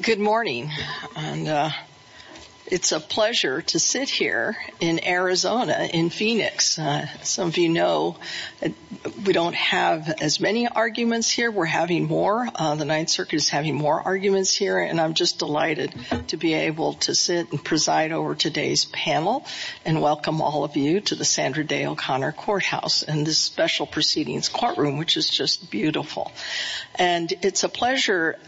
Good morning. It's a pleasure to sit here in Arizona, in Phoenix. Some of you know we don't have as many arguments here. We're having more. The Ninth Circuit is having more arguments here and I'm just delighted to be able to sit and preside over today's panel and welcome all of you to the Sandra Day O'Connor Courthouse and this special proceedings courtroom which is just beautiful. And it's a pleasure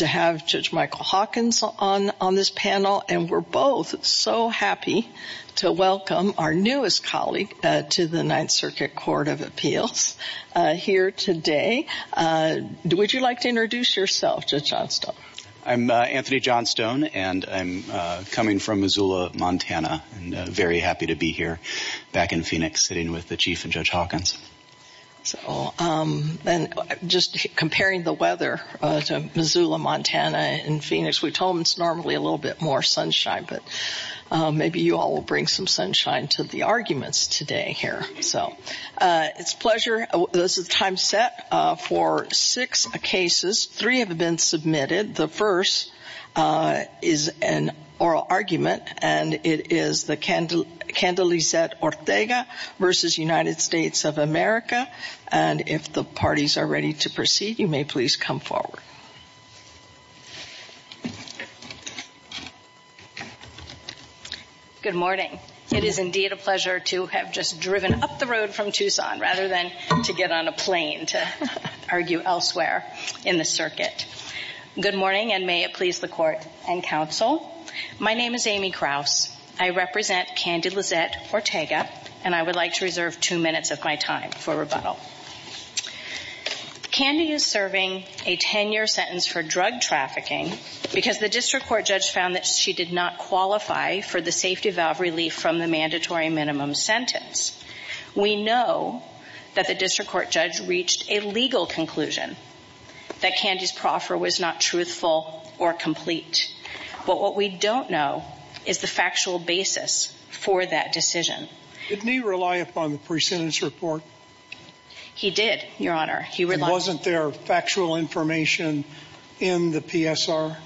to have Judge Michael Hawkins on on this panel and we're both so happy to welcome our newest colleague to the Ninth Circuit Court of Appeals here today. Would you like to introduce yourself, Judge Johnstone? I'm Anthony Johnstone and I'm coming from Missoula, Montana and very happy to be here back in Phoenix sitting with the Chief and Judge Hawkins. So just comparing the weather to Missoula, Montana and Phoenix, we told them it's normally a little bit more sunshine but maybe you all will bring some sunshine to the arguments today here. So it's a pleasure. This is the time set for six cases. Three have been submitted. The first is an oral argument and it is the Candelizet Ortega versus United States of America and if the parties are ready to proceed, you may please come forward. Good morning. It is indeed a pleasure to have just driven up the road from Tucson rather than to get on a plane to argue elsewhere in the circuit. Good morning and may it please the court and counsel. My name is Amy Krause. I represent Candelizet Ortega and I would like to reserve two minutes of my time for rebuttal. Candy is serving a 10-year sentence for drug trafficking because the district court judge found that she did not qualify for the safety valve relief from the mandatory minimum sentence. We know that the district court judge reached a legal conclusion that Candy's proffer was not truthful or complete but what we don't know is the factual basis for that decision. Didn't he rely upon the pre-sentence report? He did, your honor. He wasn't there factual information in the PSR?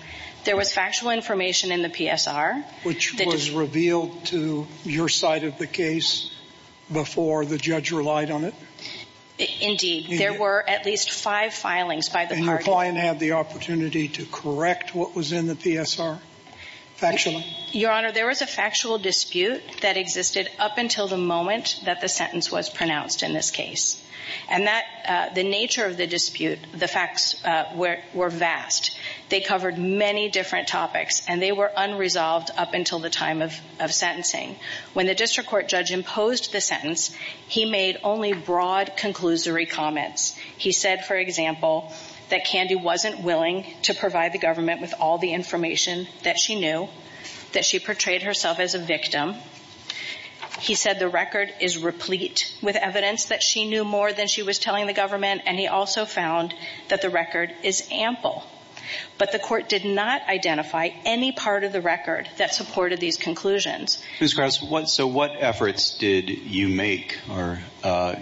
There was factual information in the PSR. Which was revealed to your side of the case before the judge relied on it? Indeed, there were at least five filings by the party. And your client had the opportunity to correct what was in the PSR factually? Your honor, there was a factual dispute that existed up until the moment that the sentence was pronounced in this case and that the nature of the dispute, the facts were vast. They covered many different topics and they were unresolved up until the time of sentencing. When the district court judge imposed the sentence, he made only broad conclusory comments. He said, for example, that Candy wasn't willing to provide the government with all the information that she knew, that she portrayed herself as a victim. He said the record is replete with evidence that she knew more than she was any part of the record that supported these conclusions. Ms. Krause, what efforts did you make or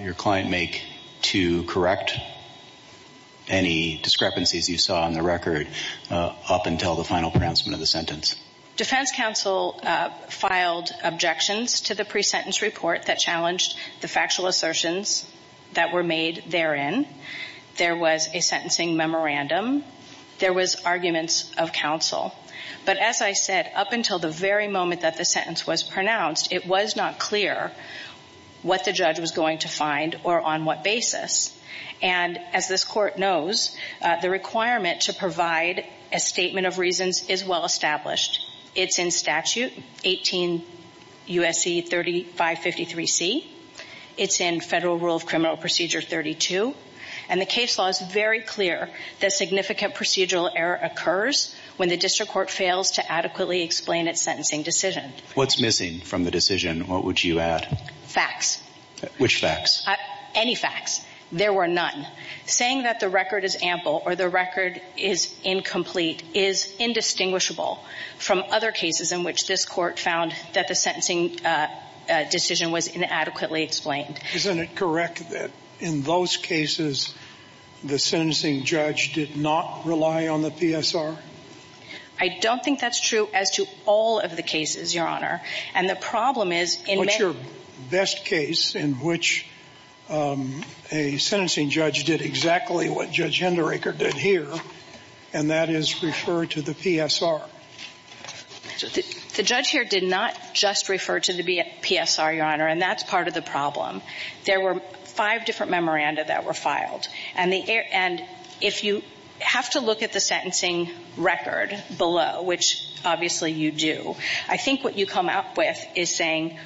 your client make to correct any discrepancies you saw in the record up until the final pronouncement of the sentence? Defense counsel filed objections to the pre-sentence report that challenged the factual assertions that were made therein. There was a sentencing memorandum. There was arguments of counsel. But as I said, up until the very moment that the sentence was pronounced, it was not clear what the judge was going to find or on what basis. And as this court knows, the requirement to provide a statement of reasons is well established. It's in statute 18 U.S.C. 3553C. It's in Federal Rule of Criminal Procedure 32. And the case law is very clear that significant procedural error occurs when the district court fails to adequately explain its sentencing decision. What's missing from the decision? What would you add? Facts. Which facts? Any facts. There were none. Saying that the record is ample or the record is incomplete is indistinguishable from other cases in which this court found that the sentencing decision was inadequately explained. Isn't it correct that in those cases the sentencing judge did not rely on the PSR? I don't think that's true as to all of the cases, Your Honor. And the problem is in... What's your best case in which a sentencing judge did exactly what Judge Henderaker did here, and that is refer to the PSR? The judge here did not just refer to the PSR, Your Honor, and that's part of the problem. There were five different memoranda that were filed. And if you have to look at the sentencing record below, which obviously you do, I think what you come out with is saying,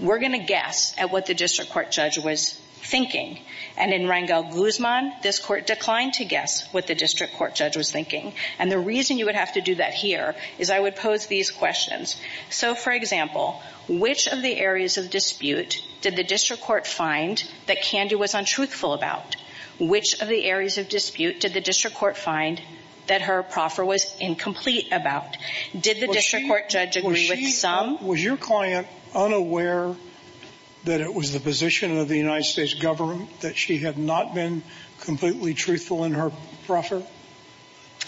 we're going to guess at what the district court judge was thinking. And in Rangel-Guzman, this court declined to guess what the district court judge was thinking. And the reason you would have to do that here is I would pose these questions. So, for example, which of the areas of dispute did the district court find that Candy was untruthful about? Which of the areas of dispute did the district court find that her proffer was incomplete about? Did the district court judge agree with some? Was your client unaware that it was the position of the United States government that she had not been completely truthful in her proffer?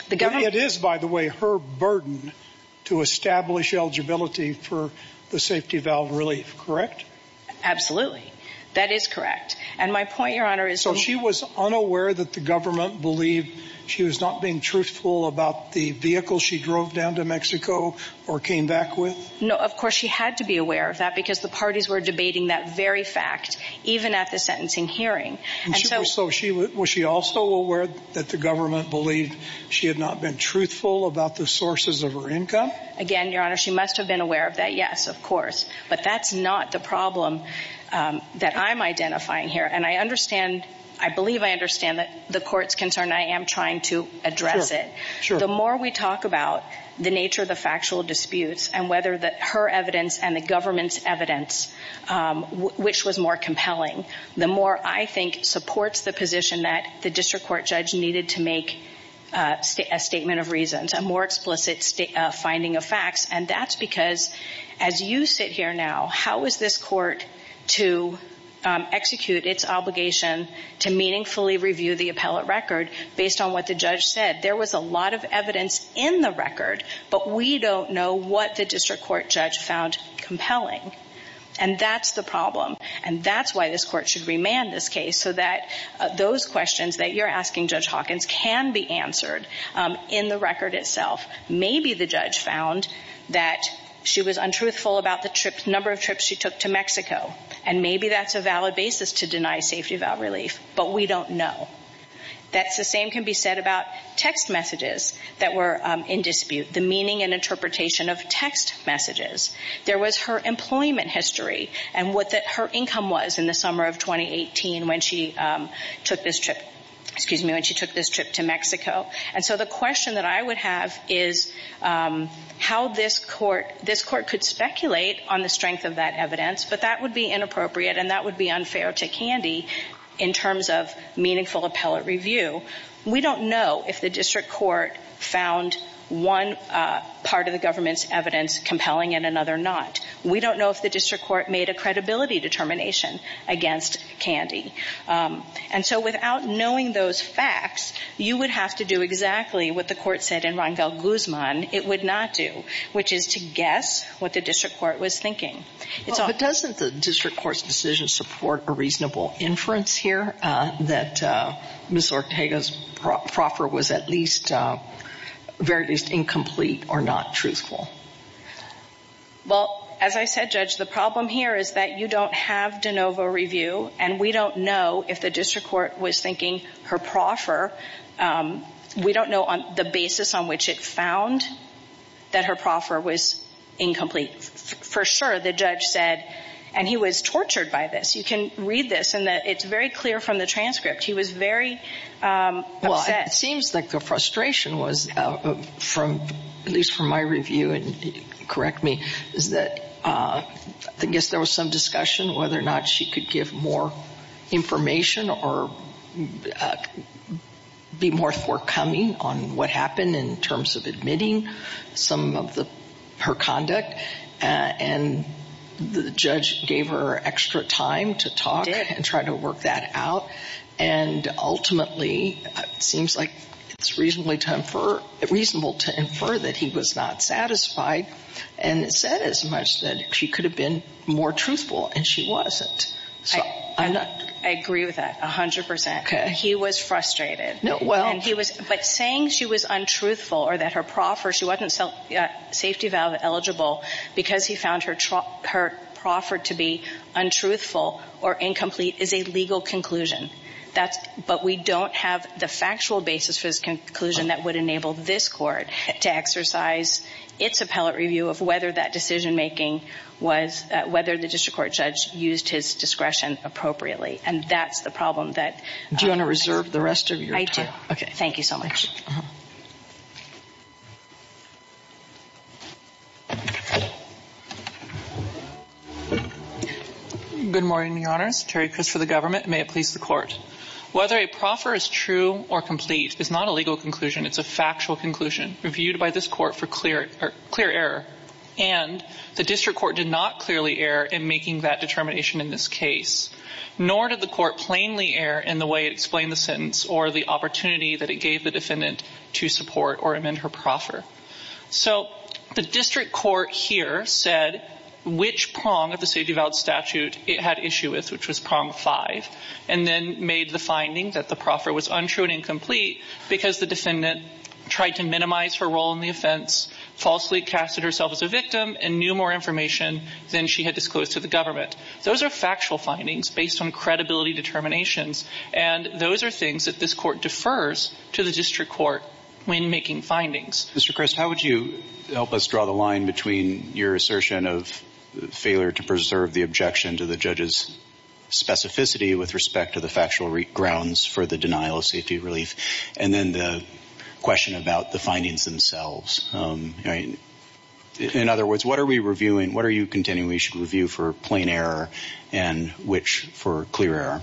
The government... It is, by the way, her burden to establish eligibility for the safety valve relief, correct? Absolutely. That is correct. And my point, Your Honor, is... So she was unaware that the government believed she was not being truthful about the vehicle she drove down to Mexico or came back with? No, of course, she had to be aware of that because the parties were debating that very fact, even at the sentencing hearing. So was she also aware that the government believed she had not been truthful about the sources of her income? Again, Your Honor, she must have been aware of that, yes, of course. But that's not the problem that I'm identifying here. And I understand, I believe I understand the court's concern. I am trying to address it. The more we talk about the nature of the factual disputes and whether her evidence and the supports the position that the district court judge needed to make a statement of reasons, a more explicit finding of facts. And that's because as you sit here now, how is this court to execute its obligation to meaningfully review the appellate record based on what the judge said? There was a lot of evidence in the record, but we don't know what the district court judge found compelling. And that's the problem. And that's why this court should remand this case so that those questions that you're asking Judge Hawkins can be answered in the record itself. Maybe the judge found that she was untruthful about the number of trips she took to Mexico. And maybe that's a valid basis to deny safety valve relief, but we don't know. That's the same can be said about text messages that were in dispute, the meaning and interpretation of text messages. There was her employment history and what her income was in the summer of 2018 when she took this trip, excuse me, when she took this trip to Mexico. And so the question that I would have is how this court could speculate on the strength of that evidence, but that would be inappropriate and that would be unfair to Candy in terms of meaningful appellate review. We don't know if we don't know if the district court made a credibility determination against Candy. And so without knowing those facts, you would have to do exactly what the court said in Ron Val Guzman, it would not do, which is to guess what the district court was thinking. Well, but doesn't the district court's decision support a reasonable inference here that Ms. Well, as I said, Judge, the problem here is that you don't have de novo review and we don't know if the district court was thinking her proffer. We don't know on the basis on which it found that her proffer was incomplete. For sure, the judge said, and he was tortured by this. You can read this and that it's very clear from the transcript. He was very, well, it seems like a frustration was from, at least from my review and correct me, is that I guess there was some discussion whether or not she could give more information or be more forthcoming on what happened in terms of admitting some of her conduct. And the judge gave her extra time to talk and try work that out. And ultimately, it seems like it's reasonable to infer that he was not satisfied and said as much that she could have been more truthful and she wasn't. I agree with that 100%. He was frustrated. But saying she was untruthful or that her proffer, she wasn't safety valve eligible because he found her proffer to be untruthful or incomplete is a legal conclusion. But we don't have the factual basis for this conclusion that would enable this court to exercise its appellate review of whether that decision making was, whether the district court judge used his discretion appropriately. And that's the problem that... Do you want to reserve the rest of your time? I do. Okay. Thank you so much. Good morning, Your Honors. Terry Chris for the government. May it please the court. Whether a proffer is true or complete is not a legal conclusion. It's a factual conclusion reviewed by this court for clear error. And the district court did not clearly err in making that determination in this case. Nor did the court plainly err in the way it explained the sentence to support or amend her proffer. So the district court here said which prong of the safety valve statute it had issue with, which was prong five, and then made the finding that the proffer was untrue and incomplete because the defendant tried to minimize her role in the offense, falsely casted herself as a victim and knew more information than she had disclosed to the government. Those are factual findings based on credibility determinations. And those are the findings that this court defers to the district court when making findings. Mr. Chris, how would you help us draw the line between your assertion of failure to preserve the objection to the judge's specificity with respect to the factual grounds for the denial of safety relief? And then the question about the findings themselves. In other words, what are we reviewing? What are you continuing? We should review for plain error and which for clear error?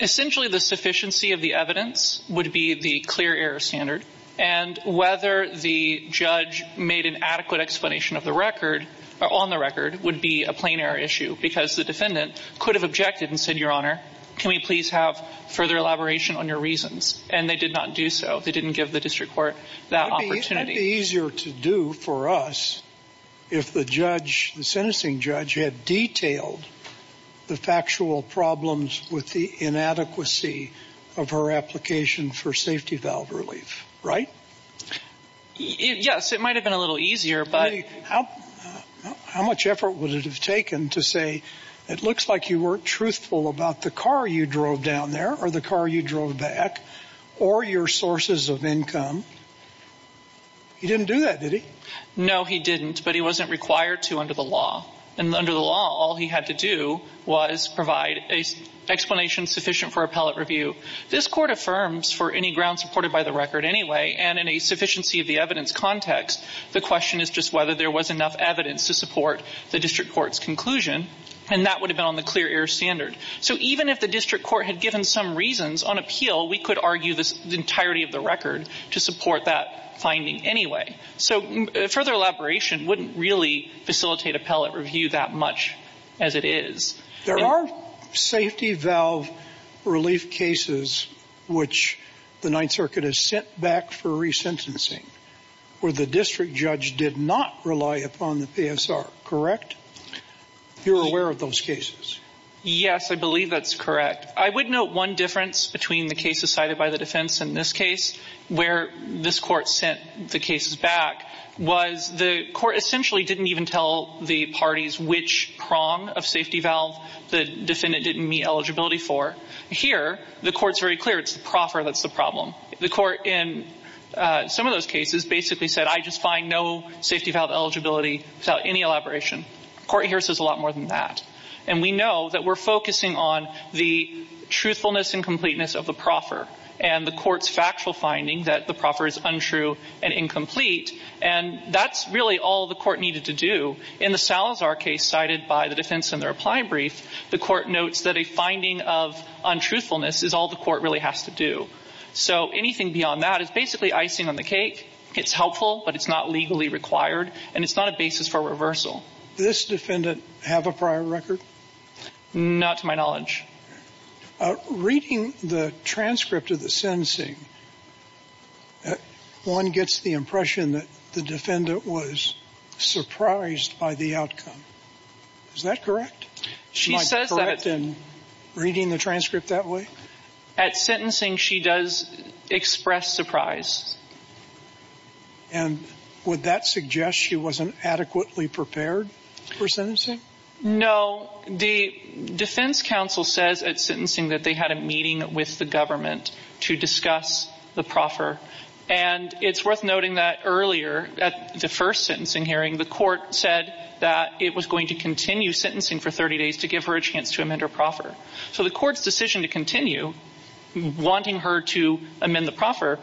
Essentially, the sufficiency of the evidence would be the clear error standard. And whether the judge made an adequate explanation of the record or on the record would be a plain error issue because the defendant could have objected and said, Your Honor, can we please have further elaboration on your reasons? And they did not do so. They didn't give the district court that opportunity. It would be easier to do for us if the judge, the sentencing judge, had detailed the factual problems with the inadequacy of her application for safety valve relief, right? Yes, it might have been a little easier. But how how much effort would it have taken to say it looks like you weren't truthful about the car you drove down there or the car you drove back or your sources of income? He didn't do that, did he? No, he didn't. But he wasn't required to under the law. And under the law, all he had to do was provide an explanation sufficient for appellate review. This court affirms for any ground supported by the record anyway. And in a sufficiency of the evidence context, the question is just whether there was enough evidence to support the district court's conclusion. And that would have been on the clear error standard. So even if the district court had given some reasons on appeal, we could argue the entirety of the record to support that finding anyway. So further elaboration wouldn't really facilitate appellate review that much as it is. There are safety valve relief cases which the Ninth Circuit has sent back for resentencing where the district judge did not rely upon the PSR, correct? You're aware of those cases? Yes, I believe that's correct. I would note one difference between the cases cited by the defense in this case where this court sent the cases back was the court essentially didn't even tell the parties which prong of safety valve the defendant didn't meet eligibility for. Here, the court's very clear it's the proffer that's the problem. The court in some of those cases basically said, I just find no safety valve eligibility without any elaboration. The court here says a lot more than that. And we know that we're focusing on the truthfulness and incompleteness of the proffer and the court's factual finding that the proffer is untrue and incomplete. And that's really all the court needed to do. In the Salazar case cited by the defense in the reply brief, the court notes that a finding of untruthfulness is all the court really has to do. So anything beyond that is basically icing on the cake. It's helpful, but it's not legally required, and it's not a basis for reversal. Does this defendant have a prior record? Not to my knowledge. Reading the transcript of the sentencing, one gets the impression that the defendant was surprised by the outcome. Is that correct? She says that. Am I correct in reading the transcript that way? At sentencing, she does express surprise. And would that suggest she wasn't adequately prepared for sentencing? No. The defense counsel says at sentencing that they had a meeting with the government to discuss the proffer. And it's worth noting that earlier at the first sentencing hearing, the court said that it was going to continue sentencing for 30 days to give her a chance to amend her proffer. So the court's decision to continue, wanting her to amend the proffer,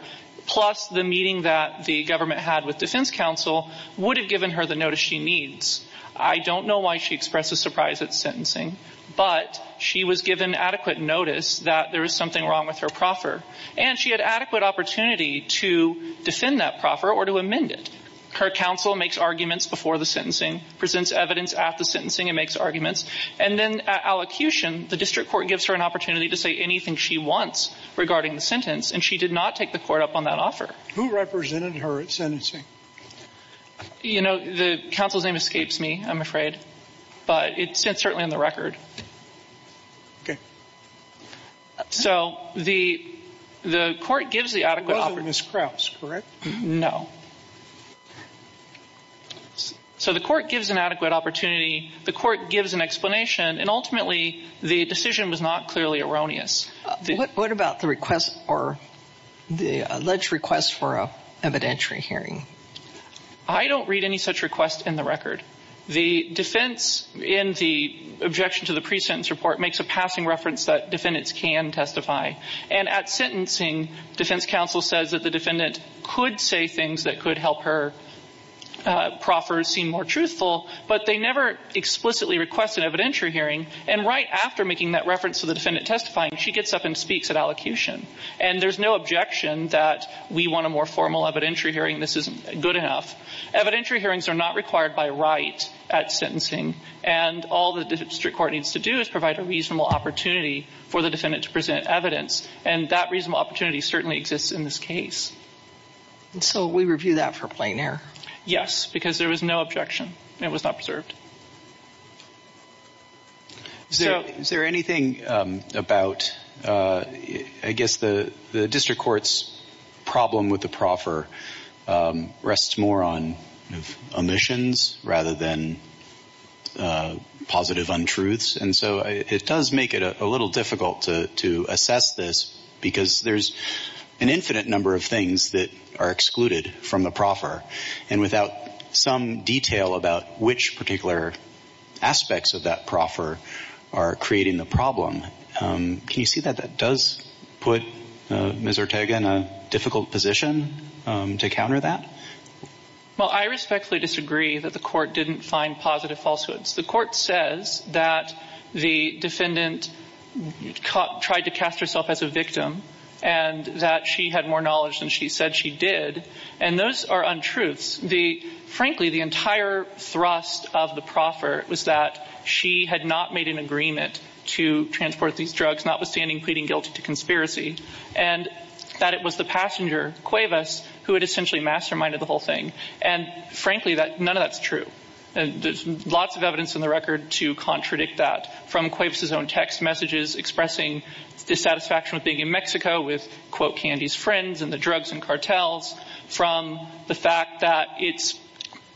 plus the meeting that the government had with defense counsel, would have given her the notice she needs. I don't know why she expressed a surprise at sentencing, but she was given adequate notice that there was something wrong with her proffer. And she had adequate opportunity to defend that proffer or to amend it. Her counsel makes arguments before the sentencing, presents evidence at the sentencing and makes arguments. And then at allocution, the district court gives her an opportunity to say anything she wants regarding the sentence, and she did not take the court up on that offer. Who represented her at sentencing? You know, the counsel's name escapes me, I'm afraid. But it's certainly in the record. Okay. So the court gives the adequate opportunity. It wasn't Ms. Krause, correct? No. So the court gives an adequate opportunity. The court gives an explanation. And ultimately, the decision was not clearly erroneous. What about the request or the alleged request for evidentiary hearing? I don't read any such request in the record. The defense in the objection to the pre-sentence report makes a passing reference that defendants can testify. And at sentencing, defense counsel says that the defendant could say things that could help her proffer seem more truthful, but they never explicitly request an evidentiary hearing. And right after making that reference to the defendant testifying, she gets up and speaks at allocution. And there's no objection that we want a more formal evidentiary hearing, this isn't good enough. Evidentiary hearings are not required by right at sentencing. And all the district court needs to do is provide a reasonable opportunity for the defendant to present evidence. And that reasonable opportunity certainly exists in this case. And so we review that for plain error? Yes, because there was no objection. It was not preserved. So is there anything about, I guess, the district court's problem with the proffer rests more on omissions rather than positive untruths. And so it does make it a little difficult to assess this, because there's an infinite number of things that are excluded from the proffer. And without some detail about which particular aspects of that proffer are creating the problem, can you see that that does put Ms. Ortega in a difficult position to counter that? Well, I respectfully disagree that the court didn't find positive falsehoods. The court says that the defendant tried to cast herself as a victim, and that she had more knowledge than she said she did. And those are untruths. Frankly, the entire thrust of the proffer was that she had not made an agreement to transport these drugs, notwithstanding pleading guilty to conspiracy, and that it was the passenger, Cuevas, who had essentially masterminded the whole thing. And frankly, none of that's true. There's lots of evidence in the record to contradict that, from Cuevas' own text messages expressing dissatisfaction with being in Mexico with, quote, Candy's friends and the drugs and cartels, from the fact that it's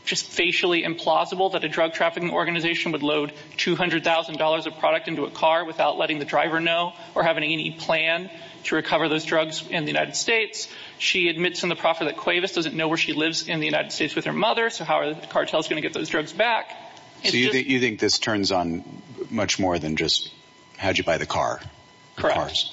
just facially implausible that a drug trafficking organization would load $200,000 of product into a car without letting the driver know, or having any plan to recover those drugs in the United States. She admits in the proffer that Cuevas doesn't know where she lives in the United States with her mother, so how are the cartels going to get those drugs back? So you think this turns on much more than just how'd you buy the car? Correct.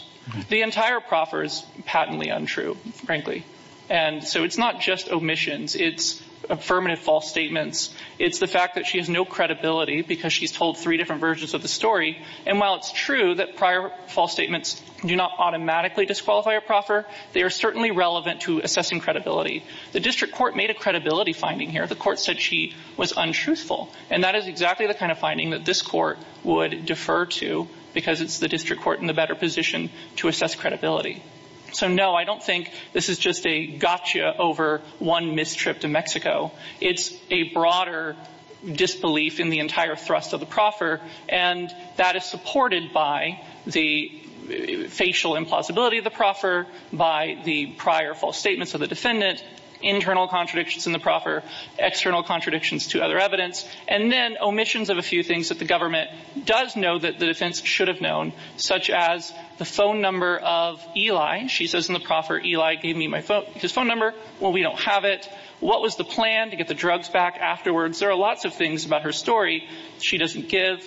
The entire proffer is patently untrue, frankly. And so it's not just omissions. It's affirmative false statements. It's the fact that she has no credibility because she's told three different versions of the story. And while it's true that prior false statements do not automatically disqualify a proffer, they are certainly relevant to assessing credibility. The district court made a credibility finding here. The court said she was untruthful, and that is it's the district court in the better position to assess credibility. So no, I don't think this is just a gotcha over one mistrip to Mexico. It's a broader disbelief in the entire thrust of the proffer, and that is supported by the facial implausibility of the proffer, by the prior false statements of the defendant, internal contradictions in the proffer, external contradictions to other evidence, and then omissions of a few things that the government does know that the defense should have known, such as the phone number of Eli. She says in the proffer, Eli gave me his phone number. Well, we don't have it. What was the plan to get the drugs back afterwards? There are lots of things about her story she doesn't give.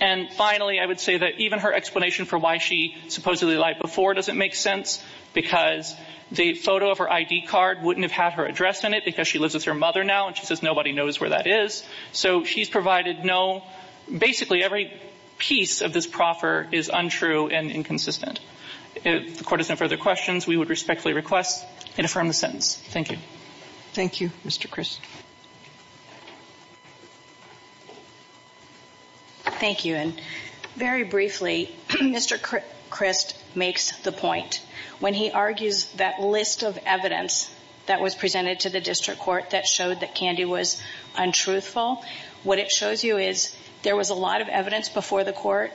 And finally, I would say that even her explanation for why she supposedly lied before doesn't make sense because the photo of her ID card wouldn't have had her address in it because she lives with her every piece of this proffer is untrue and inconsistent. If the court has no further questions, we would respectfully request and affirm the sentence. Thank you. Thank you, Mr. Christ. Thank you. And very briefly, Mr. Christ makes the point when he argues that list of evidence that was presented to the district court that showed that Candy was untruthful. What it shows you is there was a lot of evidence before the court.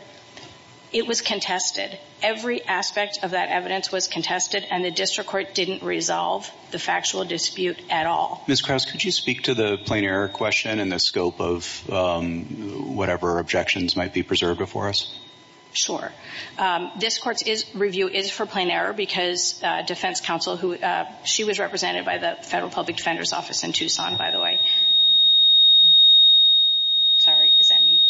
It was contested. Every aspect of that evidence was contested, and the district court didn't resolve the factual dispute at all. Ms. Krauss, could you speak to the plain error question and the scope of whatever objections might be preserved before us? Sure. This court's review is for plain error because defense counsel who she was represented by the Federal Public Defender's Office in Tucson, by the way. Sorry. Is that me?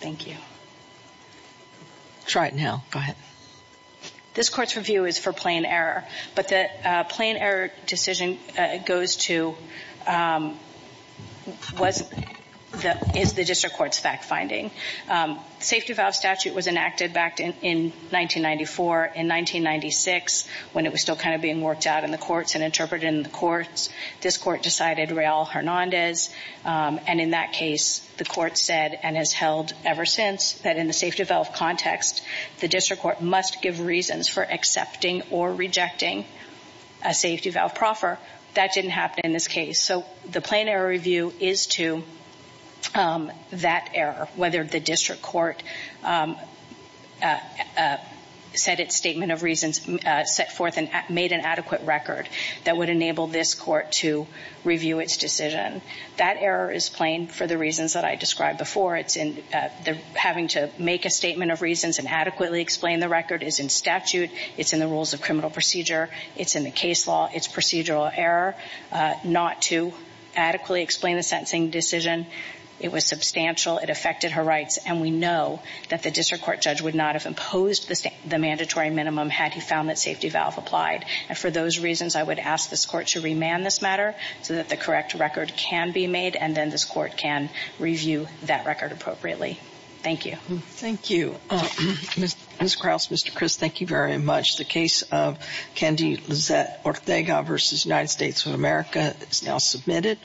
Thank you. Try it now. Go ahead. This court's review is for plain error, but the plain error decision goes to, is the district court's fact-finding. Safety valve statute was enacted back in 1994. In 1996, when it was still kind of being worked out in the courts and interpreted in the courts, this court decided Real Hernandez. And in that case, the court said and has held ever since that in the safety valve context, the district court must give reasons for accepting or rejecting a safety valve proffer. That didn't happen in this case. So the plain error review is to that error, whether the district court said its statement of reasons, set forth and made an adequate record that would enable this court to review its decision. That error is plain for the reasons that I described before. It's in the having to make a statement of reasons and adequately explain the record is in statute. It's in the rules of criminal procedure. It's in the case law. It's procedural error not to adequately explain the sentencing decision. It was substantial. It affected her rights. And we know that the district court judge would not have imposed the mandatory minimum had he found that safety valve applied. And for those reasons, I would ask this court to remand this matter so that the correct record can be made and then this court can cross. Mr. Chris, thank you very much. The case of Candy, Lizette or Vega versus United States of America is now submitted.